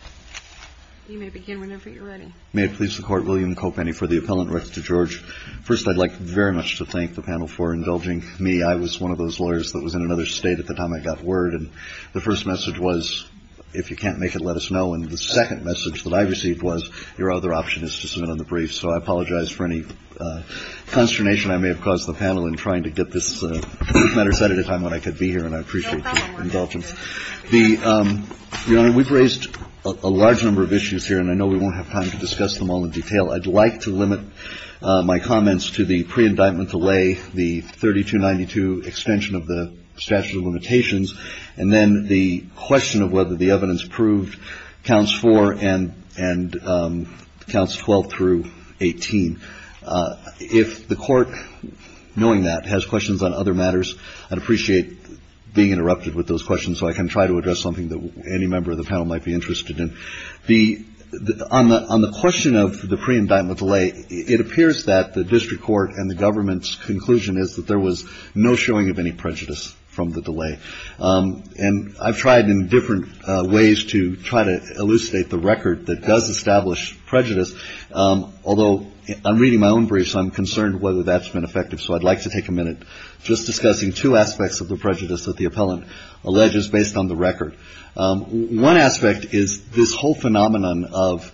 First, I'd like very much to thank the panel for indulging me. I was one of those lawyers that was in another state at the time I got word. And the first message was, if you can't make it, let us know. And the second message that I received was, your other option is to submit on the brief. So I apologize for any consternation I may have caused the panel in trying to get this matter said at a time when I could be here, and I appreciate the indulgence. Your Honor, we've raised a large number of issues here, and I know we won't have time to discuss them all in detail. I'd like to limit my comments to the pre-indictment delay, the 3292 extension of the statute of limitations, and then the question of whether the evidence proved counts 4 and counts 12 through 18. If the Court, knowing that, has questions on other matters, I'd appreciate being interrupted with those questions so I can try to address something that any member of the panel might be interested in. On the question of the pre-indictment delay, it appears that the district court and the government's conclusion is that there was no showing of any prejudice from the delay. And I've tried in different ways to try to elucidate the record that does establish prejudice, although I'm reading my own briefs, I'm concerned whether that's been effective. So I'd like to take a minute just discussing two aspects of the prejudice that the appellant alleges based on the record. One aspect is this whole phenomenon of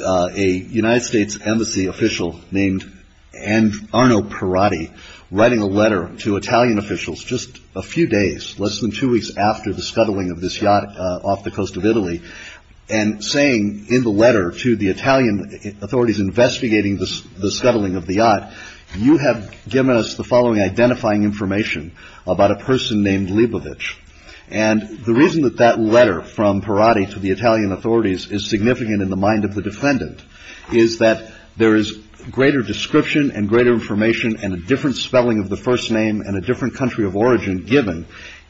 a United States Embassy official named Arno Parati writing a letter to Italian officials just a few days, less than two weeks after the scuttling of this yacht off the coast of Italy, and saying in the letter to the Italian authorities investigating the scuttling of the yacht, you have given us the following identifying information about a person named Lebovich. And the reason that that letter from Parati to the Italian authorities is significant in the mind of the defendant is that there is greater description and greater information and a different spelling of the first name and a different country of origin given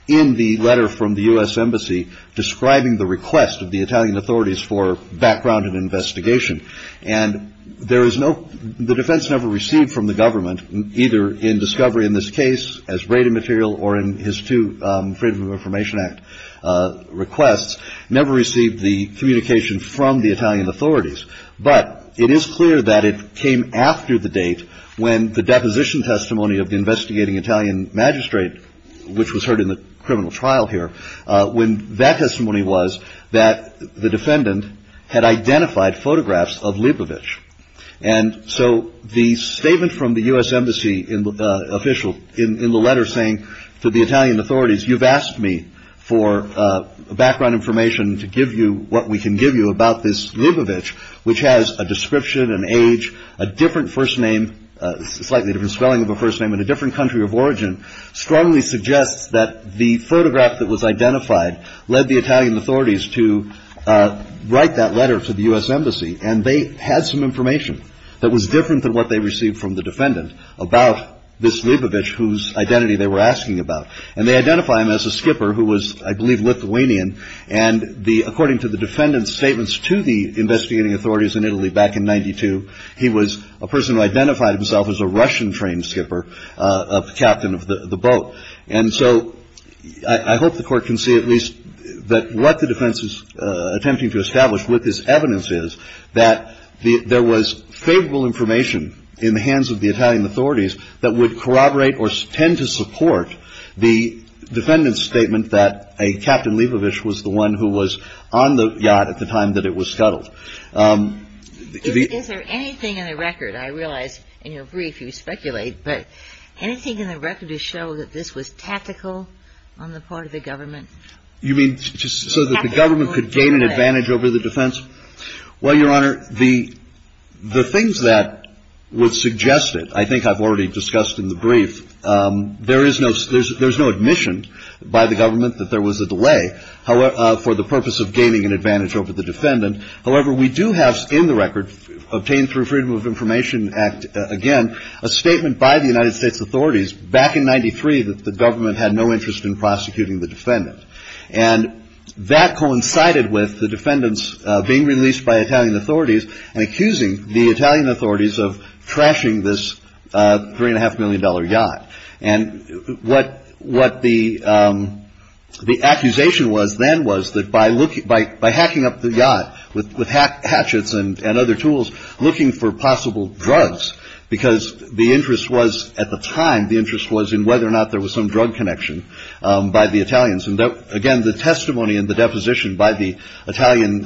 in the letter from the U.S. Embassy the request of the Italian authorities for background and investigation. And the defense never received from the government, either in discovery in this case as rated material or in his two Freedom of Information Act requests, never received the communication from the Italian authorities. But it is clear that it came after the date when the deposition testimony of the investigating Italian magistrate, which was heard in the criminal trial here, when that testimony was that the defendant had identified photographs of Lebovich. And so the statement from the U.S. Embassy official in the letter saying to the Italian authorities, you've asked me for background information to give you what we can give you about this Lebovich, which has a description, an age, a different first name, slightly different spelling of a first name and a different country of origin, strongly suggests that the photograph that was identified led the Italian authorities to write that letter to the U.S. Embassy. And they had some information that was different than what they received from the defendant about this Lebovich whose identity they were asking about. And they identify him as a skipper who was, I believe, Lithuanian. And according to the defendant's statements to the investigating authorities in Italy back in 92, he was a person who identified himself as a Russian train skipper, a captain of the boat. And so I hope the Court can see at least that what the defense is attempting to establish with this evidence is that there was favorable information in the hands of the Italian authorities that would corroborate or tend to support the defendant's statement that a Captain Lebovich was the one who was on the yacht at the time that it was scuttled. Is there anything in the record, I realize in your brief you speculate, but anything in the record to show that this was tactical on the part of the government? You mean so that the government could gain an advantage over the defense? Well, Your Honor, the things that were suggested, I think I've already discussed in the brief, there is no admission by the government that there was a delay for the purpose of gaining an advantage. However, we do have in the record, obtained through Freedom of Information Act, again, a statement by the United States authorities back in 93 that the government had no interest in prosecuting the defendant. And that coincided with the defendant's being released by Italian authorities and accusing the Italian authorities of trashing this $3.5 million yacht. And what the accusation was then was that by hacking up the yacht with hatchets and other tools, looking for possible drugs, because the interest was, at the time, the interest was in whether or not there was some drug connection by the Italians. And again, the testimony and the deposition by the Italian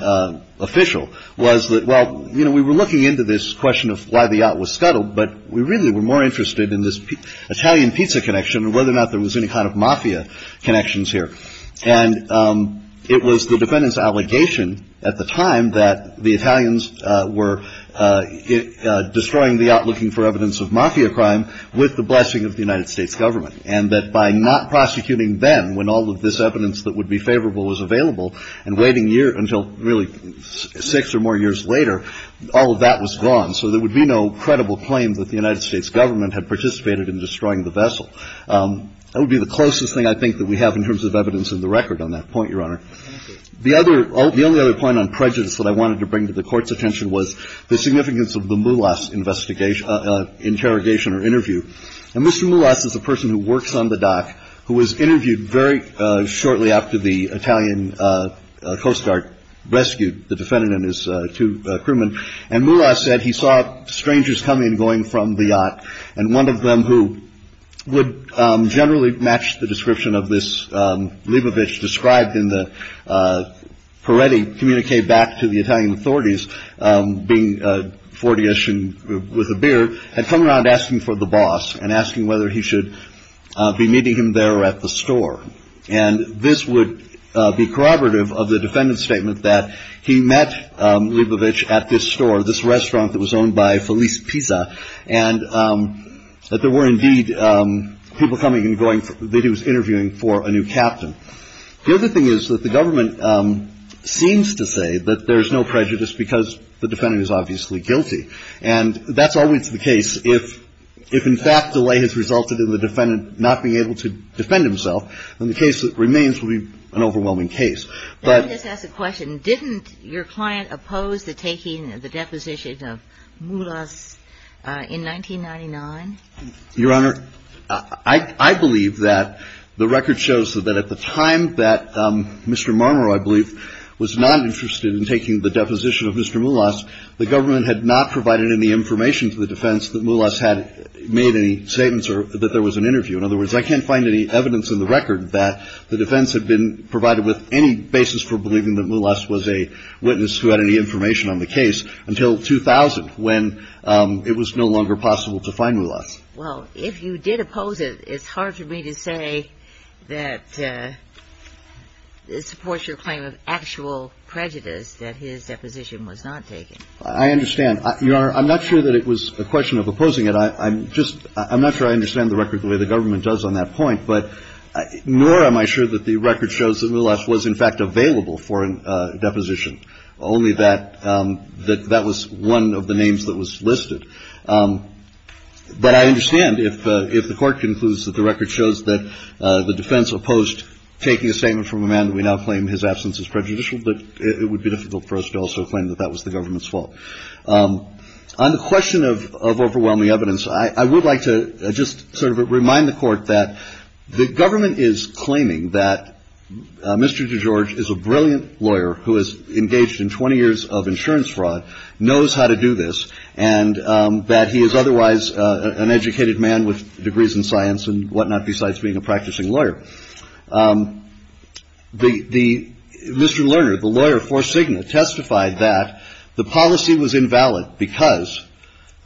official was that, well, we were looking into this question of why the yacht was scuttled, but we really were more interested in this Italian pizza connection and whether or not there was any kind of mafia connections here. And it was the defendant's allegation at the time that the Italians were destroying the yacht looking for evidence of mafia crime with the blessing of the United States government. And that by not prosecuting then, when all of this evidence that would be favorable was available, and waiting until really six or more years later, all of that was gone. So there would be no credible claim that the United States government had participated in destroying the vessel. That would be the closest thing I think that we have in terms of evidence in the record on that point, Your Honor. The other – the only other point on prejudice that I wanted to bring to the Court's attention was the significance of the Mulas interrogation or interview. And Mr. Mulas is a person who works on the dock who was interviewed very shortly after the Italian Coast Guard rescued the defendant and his two crewmen, and Mulas said he saw strangers come in going from the yacht. And one of them, who would generally match the description of this Lebovich described in the Peretti communique back to the Italian authorities, being 40ish and with a beard, had come around asking for the boss and asking whether he should be meeting him there at the store. And this would be corroborative of the defendant's statement that he met Lebovich at this store, this restaurant that was owned by Felice Pisa, and that there were indeed people coming and going – that he was interviewing for a new captain. The other thing is that the government seems to say that there is no prejudice because the defendant is obviously guilty. And that's always the case. If in fact delay has resulted in the defendant not being able to defend himself, then the case that remains will be an overwhelming case. But – Let me just ask a question. Didn't your client oppose the taking of the deposition of Mulas in 1999? Your Honor, I believe that the record shows that at the time that Mr. Marmorow, I believe, was not interested in taking the deposition of Mr. Mulas, the government had not provided any information to the defense that Mulas had made any statements or that there was an interview. In other words, I can't find any evidence in the record that the defense had been provided with any basis for believing that Mulas was a witness who had any information on the case until 2000, when it was no longer possible to find Mulas. Well, if you did oppose it, it's hard for me to say that it supports your claim of actual prejudice that his deposition was not taken. I understand. Your Honor, I'm not sure that it was a question of opposing it. I'm just – I'm not sure I understand the record the way the government does on that point. But nor am I sure that the record shows that Mulas was, in fact, available for a deposition, only that that was one of the names that was listed. But I understand if the Court concludes that the record shows that the defense opposed taking a statement from a man that we now claim his absence is prejudicial, but it would be difficult for us to also claim that that was the government's fault. On the question of overwhelming evidence, I would like to just sort of remind the Court that the government is claiming that Mr. DeGeorge is a brilliant lawyer who has engaged in 20 years of insurance fraud, knows how to do this, and that he is otherwise an educated man with degrees in science and whatnot, besides being a practicing lawyer. The – Mr. Lerner, the lawyer for Cigna, testified that the policy was invalid because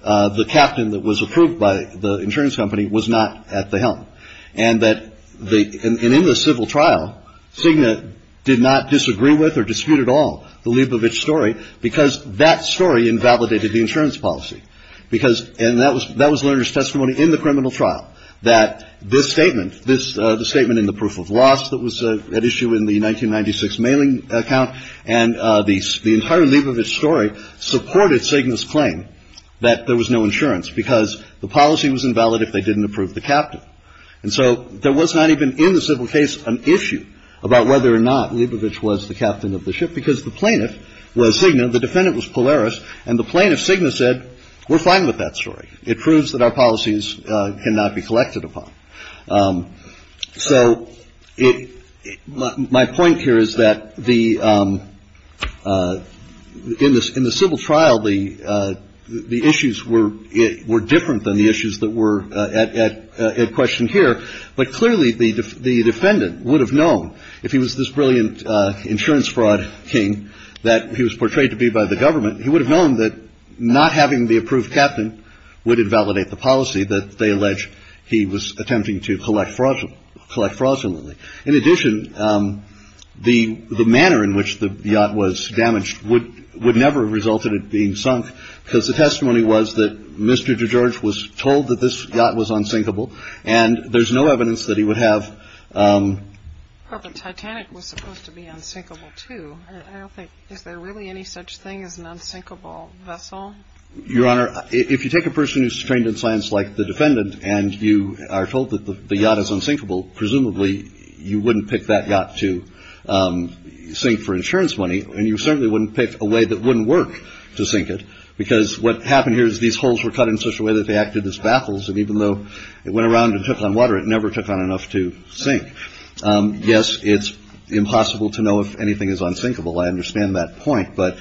the captain that was approved by the insurance company was not at the helm. And that the – and in the civil trial, Cigna did not disagree with or dispute at all the Leibovitz story because that story invalidated the insurance policy. Because – and that was Lerner's testimony in the criminal trial, that this statement, this – the statement in the proof of loss that was at issue in the 1996 mailing account And the entire Leibovitz story supported Cigna's claim that there was no insurance because the policy was invalid if they didn't approve the captain. And so there was not even in the civil case an issue about whether or not Leibovitz was the captain of the ship, because the plaintiff was Cigna, the defendant was Polaris, and the plaintiff, Cigna, said, we're fine with that story. It proves that our policies cannot be collected upon. So it – my point here is that the – in the civil trial, the issues were – were different than the issues that were at question here. But clearly, the defendant would have known, if he was this brilliant insurance fraud king that he was portrayed to be by the government, he would have known that not having the approved captain would invalidate the policy that they allege he was attempting to collect fraudulently. In addition, the manner in which the yacht was damaged would – would never have resulted in it being sunk, because the testimony was that Mr. DeGeorge was told that this yacht was unsinkable, and there's no evidence that he would have – But the Titanic was supposed to be unsinkable, too. I don't think – is there really any such thing as an unsinkable vessel? Your Honor, if you take a person who's trained in science like the defendant, and you are told that the yacht is unsinkable, presumably you wouldn't pick that yacht to sink for insurance money, and you certainly wouldn't pick a way that wouldn't work to sink it, because what happened here is these holes were cut in such a way that they acted as baffles, and even though it went around and took on water, it never took on enough to sink. Yes, it's impossible to know if anything is unsinkable. I understand that point, but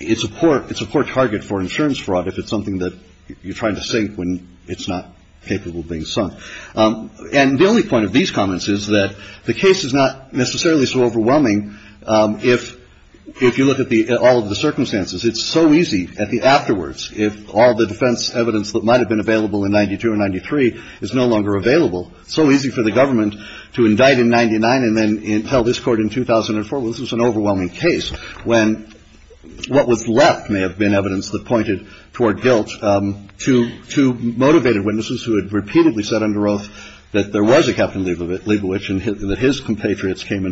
it's a poor – it's a poor target for insurance fraud if it's something that you're trying to sink when it's not capable of being sunk. And the only point of these comments is that the case is not necessarily so overwhelming if you look at the – all of the circumstances. It's so easy at the afterwards, if all the defense evidence that might have been available in 92 and 93 is no longer available, it's so easy for the government to indict in 99 and then tell this Court in 2004, well, this was an overwhelming case, when what was left may have been evidence that pointed toward guilt, to motivated witnesses who had repeatedly said under oath that there was a Captain Leibovitz and that his compatriots came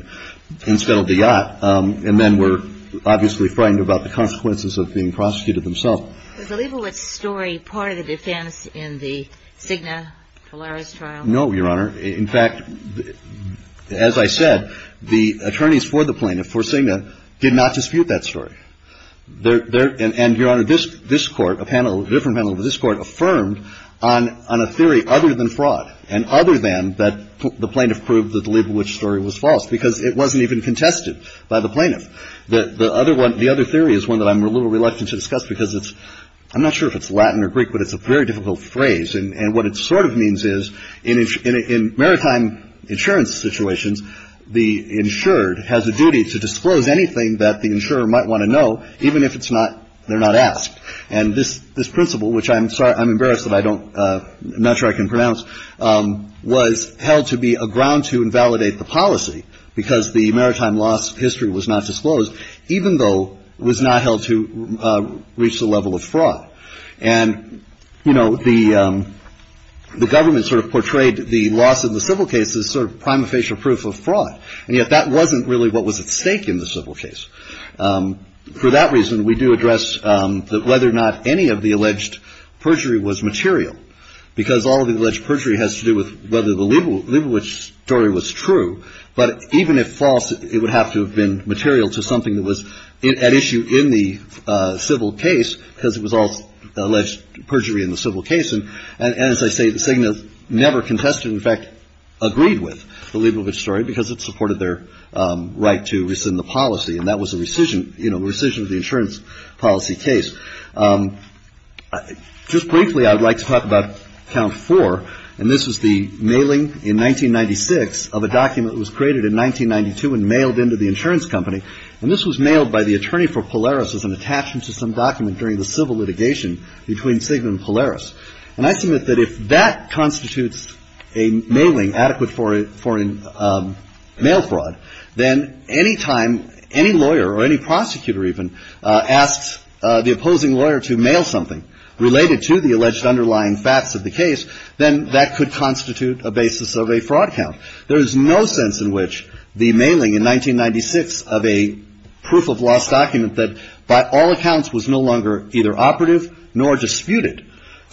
and settled the yacht, and then were obviously frightened about the consequences of being prosecuted themselves. Was the Leibovitz story part of the defense in the Cigna Polaris trial? No, Your Honor. In fact, as I said, the attorneys for the plaintiff, for Cigna, did not dispute that story. And, Your Honor, this Court, a panel, a different panel of this Court, affirmed on a theory other than fraud and other than that the plaintiff proved that the Leibovitz story was false, because it wasn't even contested by the plaintiff. The other one – the other theory is one that I'm a little reluctant to discuss, because it's – I'm not sure if it's Latin or Greek, but it's a very difficult phrase. And what it sort of means is, in maritime insurance situations, the insured has a duty to disclose anything that the insurer might want to know, even if it's not – they're not asked. And this principle, which I'm sorry – I'm embarrassed that I don't – I'm not sure I can pronounce, was held to be a ground to invalidate the policy, because the maritime loss history was not disclosed, even though it was not held to reach the level of fraud. And, you know, the government sort of portrayed the loss of the civil case as sort of prima facie proof of fraud. And yet that wasn't really what was at stake in the civil case. For that reason, we do address whether or not any of the alleged perjury was material, because all of the alleged perjury has to do with whether the Leibovitz story was true. But even if false, it would have to have been material to something that was at issue in the civil case, because it was all alleged perjury in the civil case. And as I say, the SIGNA never contested – in fact, agreed with – the Leibovitz story, because it supported their right to rescind the policy. And that was a rescission – you know, rescission of the insurance policy case. Just briefly, I would like to talk about count four. And this is the mailing in 1996 of a document that was created in 1992 and mailed into the insurance company. And this was mailed by the attorney for Polaris as an attachment to some document during the civil litigation between SIGNA and Polaris. And I submit that if that constitutes a mailing adequate for a – for a mail fraud, then any time any lawyer or any prosecutor even asks the opposing lawyer to mail something related to the alleged underlying facts of the case, then that could constitute a basis of a fraud count. There is no sense in which the mailing in 1996 of a proof-of-loss document that by all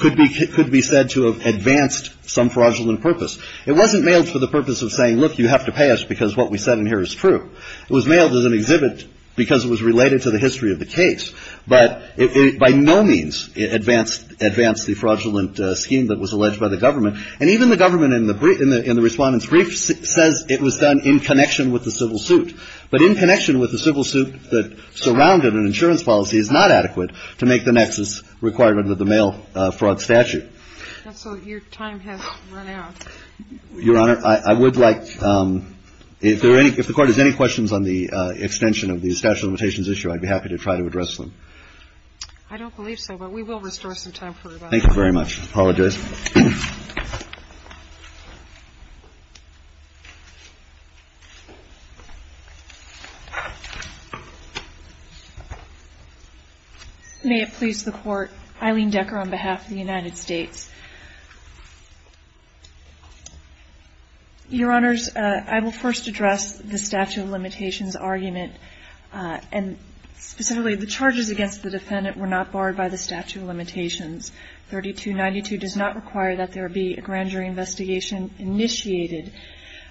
could be – could be said to have advanced some fraudulent purpose. It wasn't mailed for the purpose of saying, look, you have to pay us because what we said in here is true. It was mailed as an exhibit because it was related to the history of the case. But it by no means advanced – advanced the fraudulent scheme that was alleged by the government. And even the government in the – in the Respondent's Brief says it was done in connection with the civil suit. But in connection with the civil suit that surrounded an insurance policy is not adequate to make the nexus required under the mail fraud statute. And so your time has run out. Your Honor, I would like – if there are any – if the Court has any questions on the extension of the statute of limitations issue, I'd be happy to try to address them. I don't believe so, but we will restore some time for you. Thank you very much. Apologize. May it please the Court, Eileen Decker on behalf of the United States. Your Honors, I will first address the statute of limitations argument. And specifically, the charges against the Defendant were not barred by the statute of limitations. 3292 does not require that there be a grand jury investigation initiated.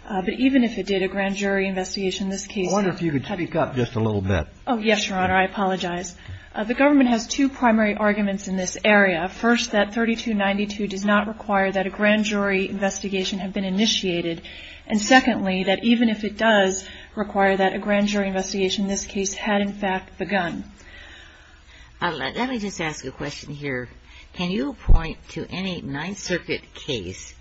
But even if it did, a grand jury investigation in this case – I wonder if you could speak up just a little bit. Oh, yes, Your Honor. I apologize. The government has two primary arguments in this area. First that 3292 does not require that a grand jury investigation have been initiated. And secondly, that even if it does require that, a grand jury investigation in this case had in fact begun. Let me just ask a question here. Can you point to any Ninth Circuit case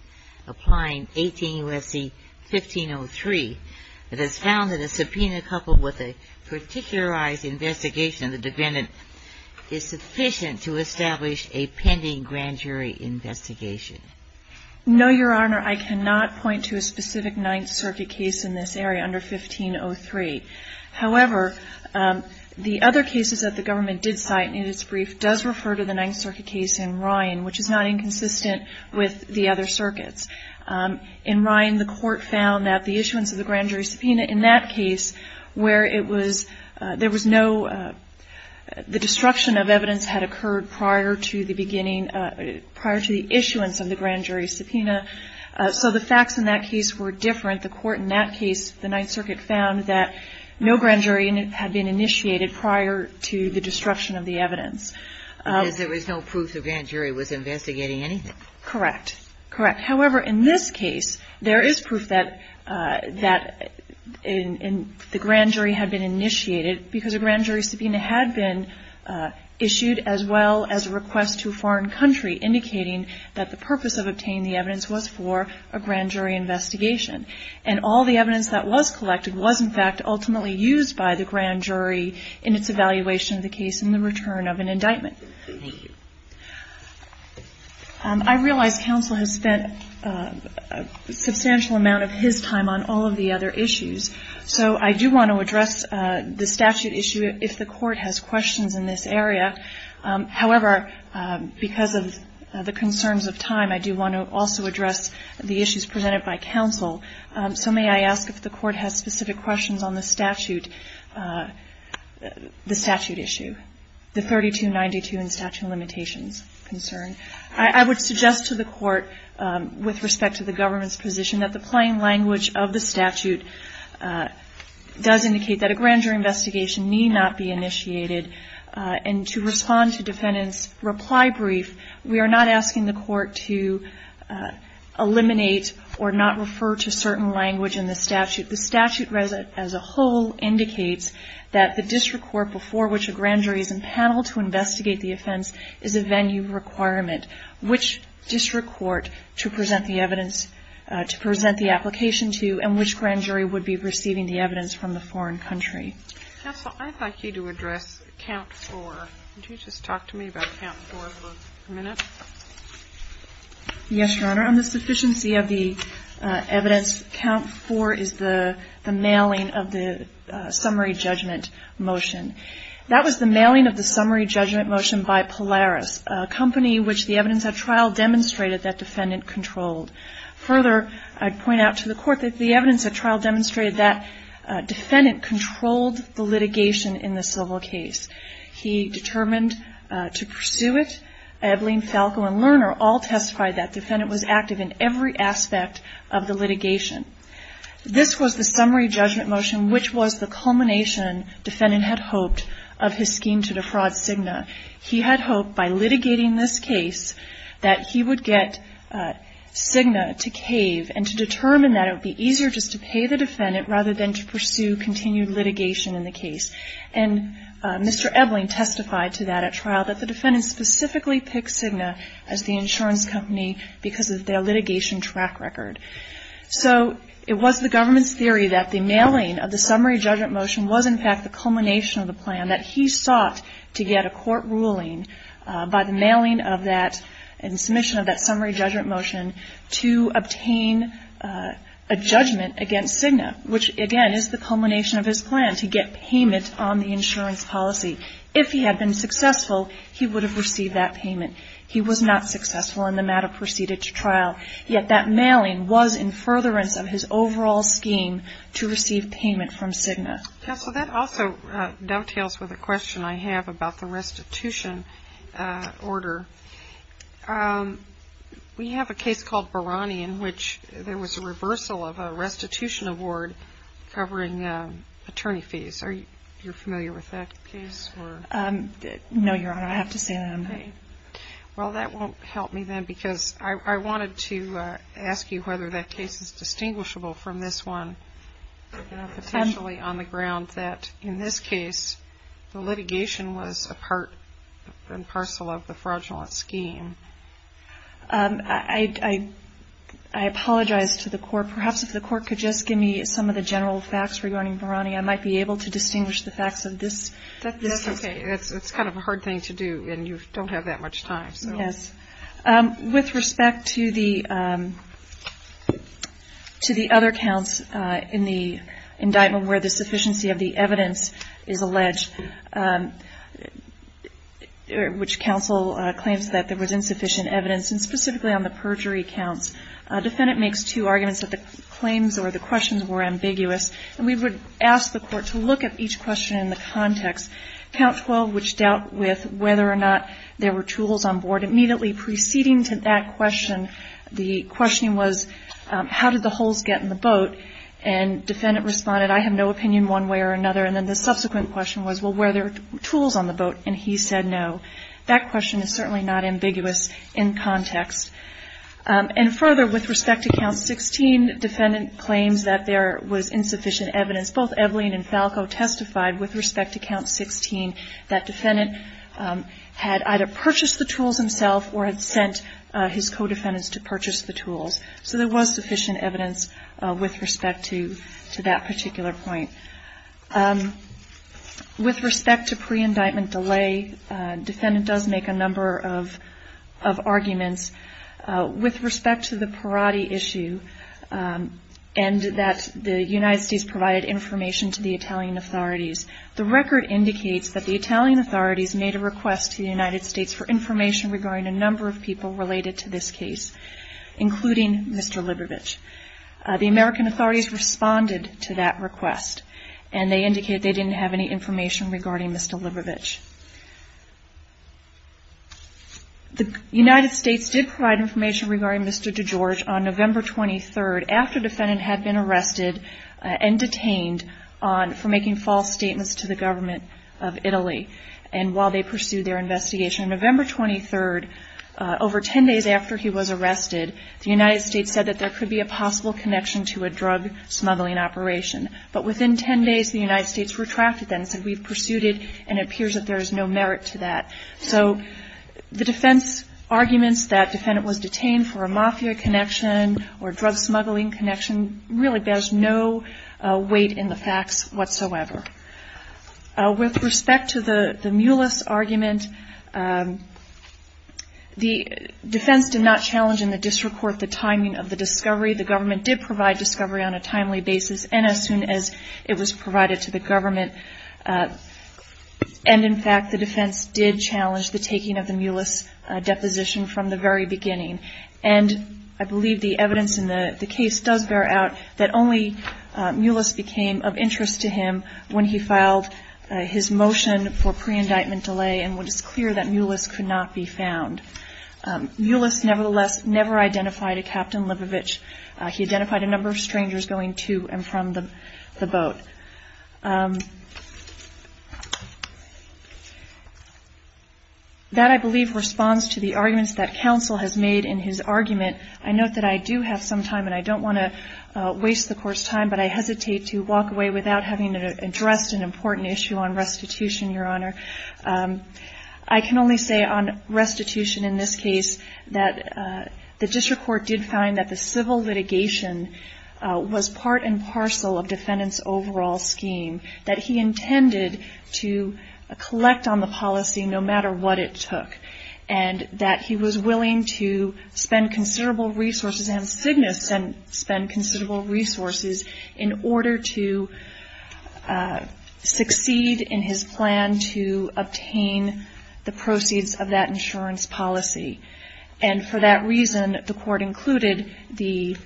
applying 18 U.S.C. 1503 that is found in a subpoena coupled with a particularized investigation of the Defendant is sufficient to establish a pending grand jury investigation? No, Your Honor. I cannot point to a specific Ninth Circuit case in this area under 1503. However, the other cases that the government did cite in its brief does refer to the Ninth Circuit case in Ryan, which is not inconsistent with the other circuits. In Ryan, the Court found that the issuance of the grand jury subpoena in that case where it was – there was no – the destruction of evidence had occurred prior to the beginning – prior to the issuance of the grand jury subpoena. So the facts in that case were different. The court in that case, the Ninth Circuit, found that no grand jury had been initiated prior to the destruction of the evidence. Because there was no proof the grand jury was investigating anything. Correct. Correct. However, in this case, there is proof that the grand jury had been initiated because a grand jury subpoena had been issued as well as a request to a foreign country indicating that the purpose of obtaining the evidence was for a grand jury investigation. And all the evidence that was collected was, in fact, ultimately used by the grand jury in its evaluation of the case in the return of an indictment. Thank you. I realize Counsel has spent a substantial amount of his time on all of the other issues. So I do want to address the statute issue if the Court has questions in this area. However, because of the concerns of time, I do want to also address the issues presented by Counsel. So may I ask if the Court has specific questions on the statute issue, the 3292 and statute limitations concern? I would suggest to the Court, with respect to the government's position, that the plain language of the statute does indicate that a grand jury investigation need not be initiated and to respond to defendant's reply brief, we are not asking the Court to eliminate or not refer to certain language in the statute. The statute as a whole indicates that the district court before which a grand jury is empaneled to investigate the offense is a venue requirement. Which district court to present the evidence, to present the application to and which grand jury would be receiving the evidence from the foreign country? Counsel, I'd like you to address Count 4. Would you just talk to me about Count 4 for a minute? Yes, Your Honor. On the sufficiency of the evidence, Count 4 is the mailing of the summary judgment motion. That was the mailing of the summary judgment motion by Polaris, a company which the evidence at trial demonstrated that defendant controlled. Further, I'd point out to the Court that the evidence at trial demonstrated that defendant controlled the litigation in the civil case. He determined to pursue it. Ebeling, Falco, and Lerner all testified that defendant was active in every aspect of the litigation. This was the summary judgment motion, which was the culmination, defendant had hoped, of his scheme to defraud Cigna. He had hoped by litigating this case that he would get Cigna to cave and to determine that it would be easier just to pay the defendant rather than to pursue continued litigation in the case. And Mr. Ebeling testified to that at trial, that the defendant specifically picked Cigna as the insurance company because of their litigation track record. So it was the government's theory that the mailing of the summary judgment motion was in fact the culmination of the plan, that he sought to get a court ruling by the mailing of that and submission of that summary judgment motion to obtain a judgment against Cigna, which again is the culmination of his plan to get payment on the insurance policy. If he had been successful, he would have received that payment. Yet that mailing was in furtherance of his overall scheme to receive payment from Cigna. Yes, so that also dovetails with a question I have about the restitution order. We have a case called Barani in which there was a reversal of a restitution award covering attorney fees. Are you familiar with that case? No, Your Honor, I have to say that I'm not. Well, that won't help me then because I wanted to ask you whether that case is distinguishable from this one, potentially on the ground that in this case the litigation was a part and parcel of the fraudulent scheme. I apologize to the court. Perhaps if the court could just give me some of the general facts regarding Barani, I might be able to distinguish the facts of this. That's okay. It's kind of a hard thing to do, and you don't have that much time. Yes. With respect to the other counts in the indictment where the sufficiency of the evidence is alleged, which counsel claims that there was insufficient evidence, and specifically on the perjury counts, a defendant makes two arguments that the claims or the questions were ambiguous, and we would ask the court to look at each question in the context. Count 12, which dealt with whether or not there were tools on board, immediately preceding to that question, the question was, how did the holes get in the boat? And defendant responded, I have no opinion one way or another. And then the subsequent question was, well, were there tools on the boat? And he said no. That question is certainly not ambiguous in context. And further, with respect to count 16, defendant claims that there was insufficient evidence. Both Evelyn and Falco testified with respect to count 16 that defendant had either purchased the tools himself or had sent his co-defendants to purchase the tools. So there was sufficient evidence with respect to that particular point. With respect to pre-indictment delay, defendant does make a number of arguments. With respect to the Parati issue, and that the United States provided information to the Italian authorities, the record indicates that the Italian authorities made a request to the United States for information regarding a number of people related to this case, including Mr. Libovich. The American authorities responded to that request, and they indicated they didn't have any information regarding Mr. Libovich. The United States did provide information regarding Mr. DeGeorge on November 23rd, after defendant had been arrested and detained for making false statements to the government of Italy, and while they pursued their investigation. On November 23rd, over 10 days after he was arrested, the United States said that there could be a possible connection to a drug smuggling operation. But within 10 days, the United States retracted that and said, we've pursued it and it appears that there is no merit to that. So the defense arguments that defendant was detained for a mafia connection or drug smuggling connection really bears no weight in the facts whatsoever. With respect to the Mulis argument, the defense did not challenge in the district court the timing of the discovery. The government did provide discovery on a timely basis, and as soon as it was provided to the government. And in fact, the defense did challenge the taking of the Mulis deposition from the very beginning. And I believe the evidence in the case does bear out that only Mulis became of interest to him when he filed his motion for pre-indictment delay, and it was clear that Mulis could not be found. Mulis, nevertheless, never identified a Captain Lebovich. He identified a number of strangers going to and from the boat. That, I believe, responds to the arguments that counsel has made in his argument. I note that I do have some time, and I don't want to waste the court's time, but I hesitate to walk away without having addressed an important issue on restitution, Your Honor. I can only say on restitution in this case that the district court did find that the civil litigation was part and parcel of defendant's overall scheme, that he intended to collect on the policy no matter what it took, and that he was willing to spend considerable resources, and Cigna spent considerable resources, in order to succeed in his plan to obtain the proceeds of that insurance policy. And for that reason, the court included the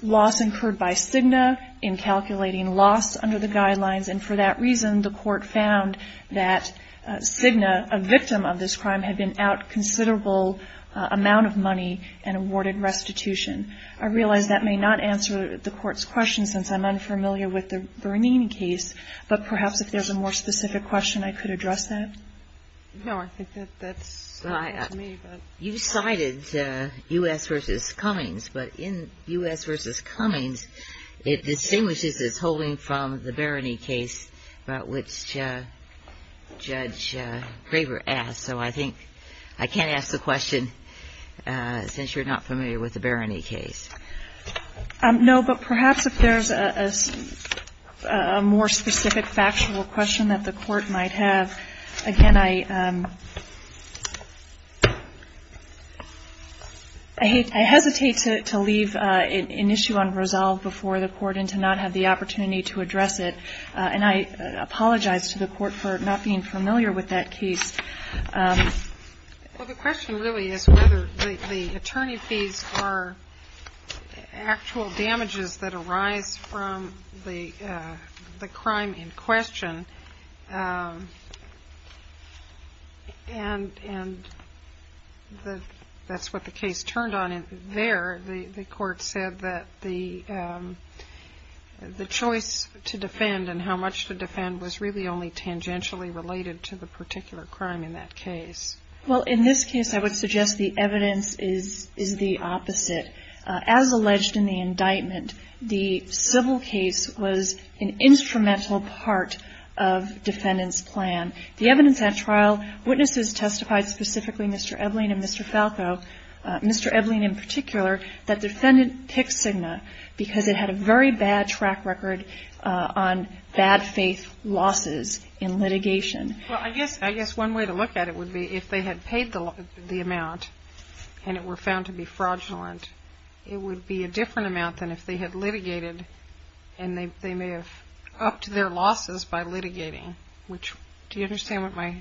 loss incurred by Cigna in calculating loss under the guidelines, and for that reason, the court found that Cigna, a victim of this crime, had been out considerable amount of money and awarded restitution. I realize that may not answer the court's question, since I'm unfamiliar with the Bernine case, but perhaps if there's a more specific question, I could address that. You cited U.S. v. Cummings, but in U.S. v. Cummings, it distinguishes its holding from the Bernine case about which Judge Graber asked. So I think I can't ask the question, since you're not familiar with the Bernine case. No, but perhaps if there's a more specific factual question that the court might have, again, I hesitate to leave an issue unresolved before the court and to not have the opportunity to address it, and I apologize to the court for not being familiar with that case. Well, the question really is whether the attorney fees are actual damages that arise from the crime in question. And that's what the case turned on. There, the court said that the choice to defend and how much to defend was really only tangentially related to the particular crime in that case. Well, in this case, I would suggest the evidence is the opposite. As alleged in the indictment, the civil case was an instrumental part of defendant's plan. The evidence at trial, witnesses testified specifically, Mr. Ebeling and Mr. Falco, Mr. Ebeling in particular, that defendant picked Cigna because it had a very bad track record on bad faith losses in litigation. Well, I guess one way to look at it would be if they had paid the amount and it were found to be fraudulent, it would be a different amount than if they had litigated and they may have upped their losses by litigating, which do you understand what my...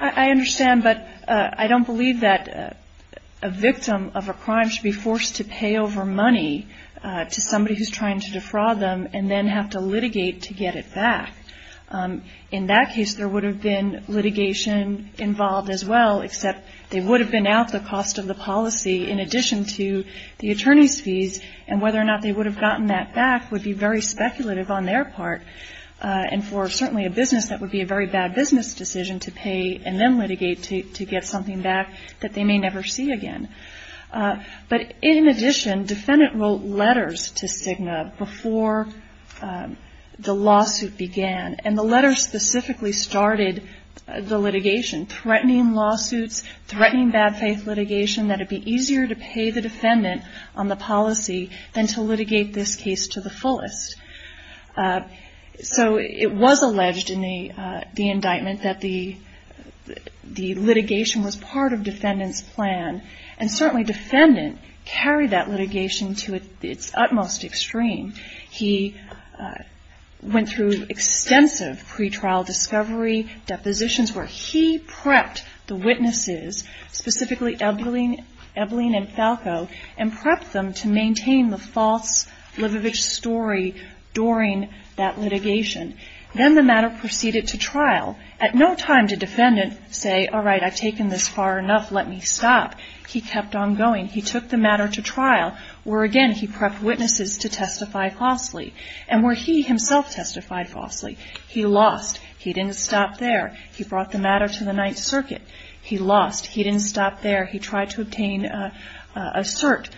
I understand, but I don't believe that a victim of a crime should be forced to pay over money to somebody who's trying to defraud them and then have to litigate to get it back. In that case, there would have been litigation involved as well, except they would have been out the cost of the policy in addition to the attorney's fees and whether or not they would have gotten that back would be very speculative on their part. And for certainly a business, that would be a very bad business decision to pay and then litigate to get something back that they may never see again. But in addition, defendant wrote letters to Cigna before the lawsuit began and the letter specifically started the litigation, threatening lawsuits, threatening bad faith litigation that it'd be easier to pay the defendant on the policy than to litigate this case to the fullest. So it was alleged in the indictment that the litigation was part of defendant's plan and certainly defendant carried that litigation to its utmost extreme. He went through extensive pretrial discovery depositions where he prepped the witnesses, specifically Ebeling and Falco, and prepped them to maintain the false Livovich story during that litigation. Then the matter proceeded to trial. At no time did defendant say, all right, I've taken this far enough, let me stop. He kept on going. He took the matter to trial where, again, he prepped witnesses to testify falsely and where he himself testified falsely. He lost. He didn't stop there. He brought the matter to the Ninth Circuit. He lost. He didn't stop there. He tried to obtain a cert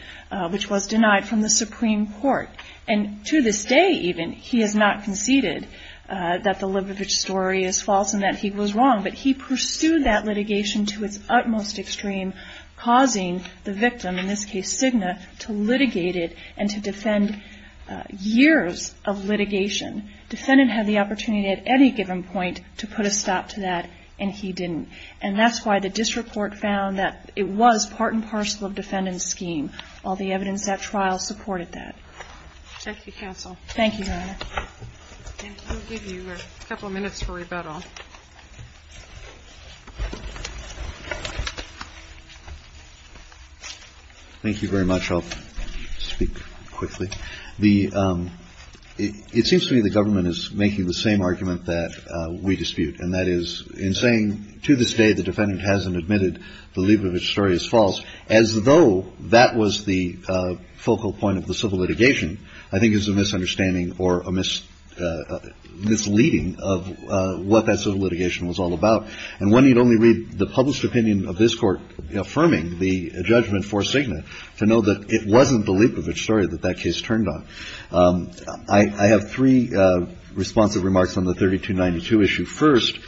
which was denied from the Supreme Court. And to this day even, he has not conceded that the Livovich story is false and that he was wrong, but he pursued that litigation to its utmost extreme, causing the victim, in this case Cigna, to litigate it and to defend years of litigation. Defendant had the opportunity at any given point to put a stop to that, and he didn't. And that's why the district court found that it was part and parcel of defendant's scheme. All the evidence at trial supported that. Thank you, counsel. Thank you, Your Honor. And we'll give you a couple of minutes for rebuttal. Thank you very much. I'll speak quickly. The ‑‑ it seems to me the government is making the same argument that we dispute, and that is in saying to this day the defendant hasn't admitted the Livovich story is false, as though that was the focal point of the civil litigation, I think is a misunderstanding or a misleading of what that civil litigation was all about. And one need only read the published opinion of this Court affirming the judgment for Cigna to know that it wasn't the Livovich story that that case turned on. I have three responsive remarks on the 3292 issue. First,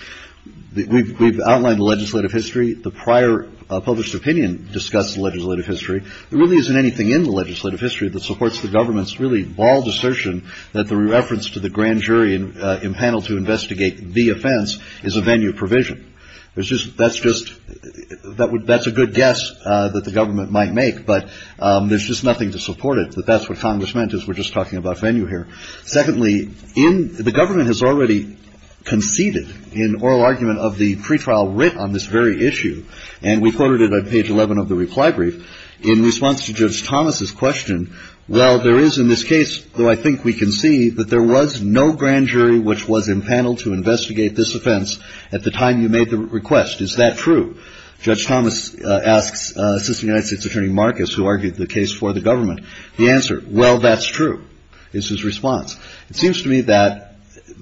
we've outlined the legislative history. The prior published opinion discussed the legislative history. There really isn't anything in the legislative history that supports the government's really bald assertion that the reference to the grand jury in panel to investigate the offense is a venue provision. That's just ‑‑ that's a good guess that the government might make, but there's just nothing to support it, that that's what Congress meant, is we're just talking about venue here. Secondly, the government has already conceded in oral argument of the pretrial writ on this very issue, and we quoted it on page 11 of the reply brief, in response to Judge Thomas's question, well, there is in this case, though I think we can see, that there was no grand jury which was in panel to investigate this offense at the time you made the request. Is that true? Judge Thomas asks Assistant United States Attorney Marcus, who argued the case for the government. The answer, well, that's true, is his response. It seems to me that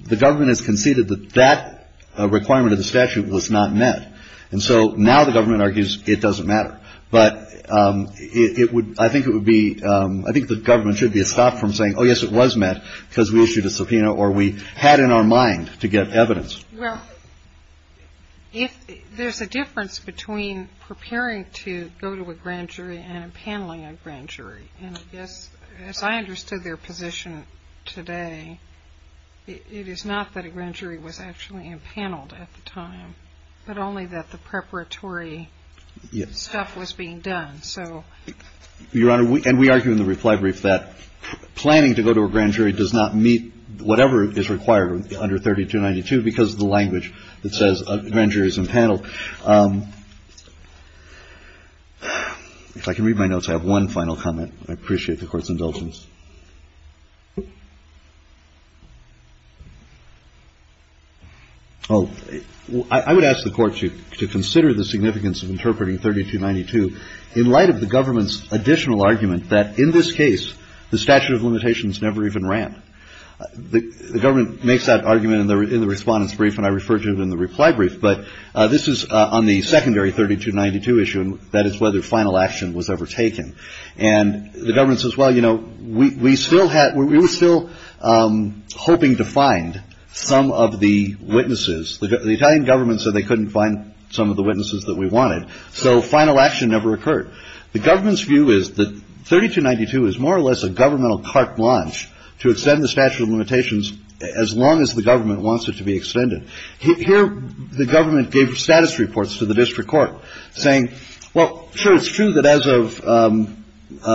the government has conceded that that requirement of the statute was not met. And so now the government argues it doesn't matter. But it would ‑‑ I think it would be ‑‑ I think the government should be stopped from saying, oh, yes, it was met because we issued a subpoena or we had in our mind to get evidence. Well, if there's a difference between preparing to go to a grand jury and paneling a grand jury, and I guess as I understood their position today, it is not that a grand jury was actually in panel at the time, but only that the preparatory stuff was being done. So ‑‑ Your Honor, and we argue in the reply brief that planning to go to a grand jury does not meet whatever is required under 3292 because of the language that says a grand jury is in panel. If I can read my notes, I have one final comment. I appreciate the Court's indulgence. Oh, I would ask the Court to consider the significance of interpreting 3292 in light of the government's additional argument that in this case the statute of limitations never even ran. The government makes that argument in the Respondent's Brief, and I refer to it in the reply brief. But this is on the secondary 3292 issue, and that is whether final action was ever taken. And the government says, well, you know, we still had ‑‑ we were still hoping to find some of the witnesses. The Italian government said they couldn't find some of the witnesses that we wanted, so final action never occurred. The government's view is that 3292 is more or less a governmental carte blanche to extend the statute of limitations as long as the government wants it to be extended. Here the government gave status reports to the district court saying, well, sure, it's true that as of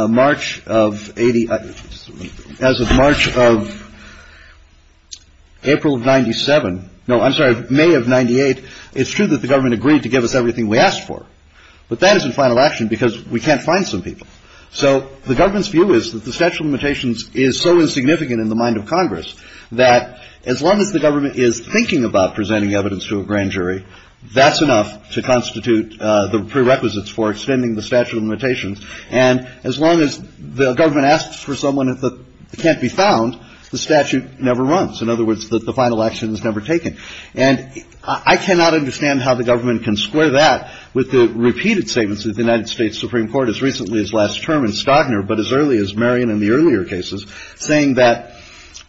March of 80 ‑‑ as of March of April of 97 ‑‑ no, I'm sorry, May of 98, it's true that the government agreed to give us everything we asked for, but that isn't final action because we can't find some people. So the government's view is that the statute of limitations is so insignificant in the mind of Congress that as long as the government is thinking about presenting evidence to a grand jury, that's enough to constitute the prerequisites for extending the statute of limitations. And as long as the government asks for someone that can't be found, the statute never runs. In other words, the final action is never taken. And I cannot understand how the government can square that with the repeated statements that the United States Supreme Court as recently as last term in Stagner, but as early as Marion in the earlier cases, saying that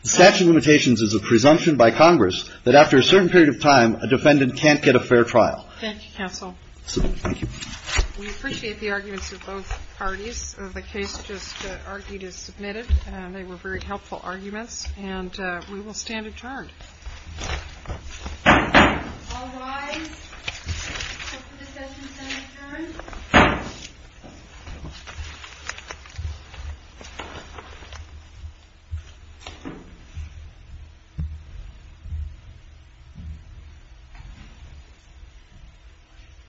the statute of limitations is a presumption by Congress that after a certain period of time, a defendant can't get a fair trial. Thank you, counsel. Thank you. We appreciate the arguments of both parties. The case just argued is submitted. They were very helpful arguments. And we will stand adjourned. All rise for the session to be adjourned.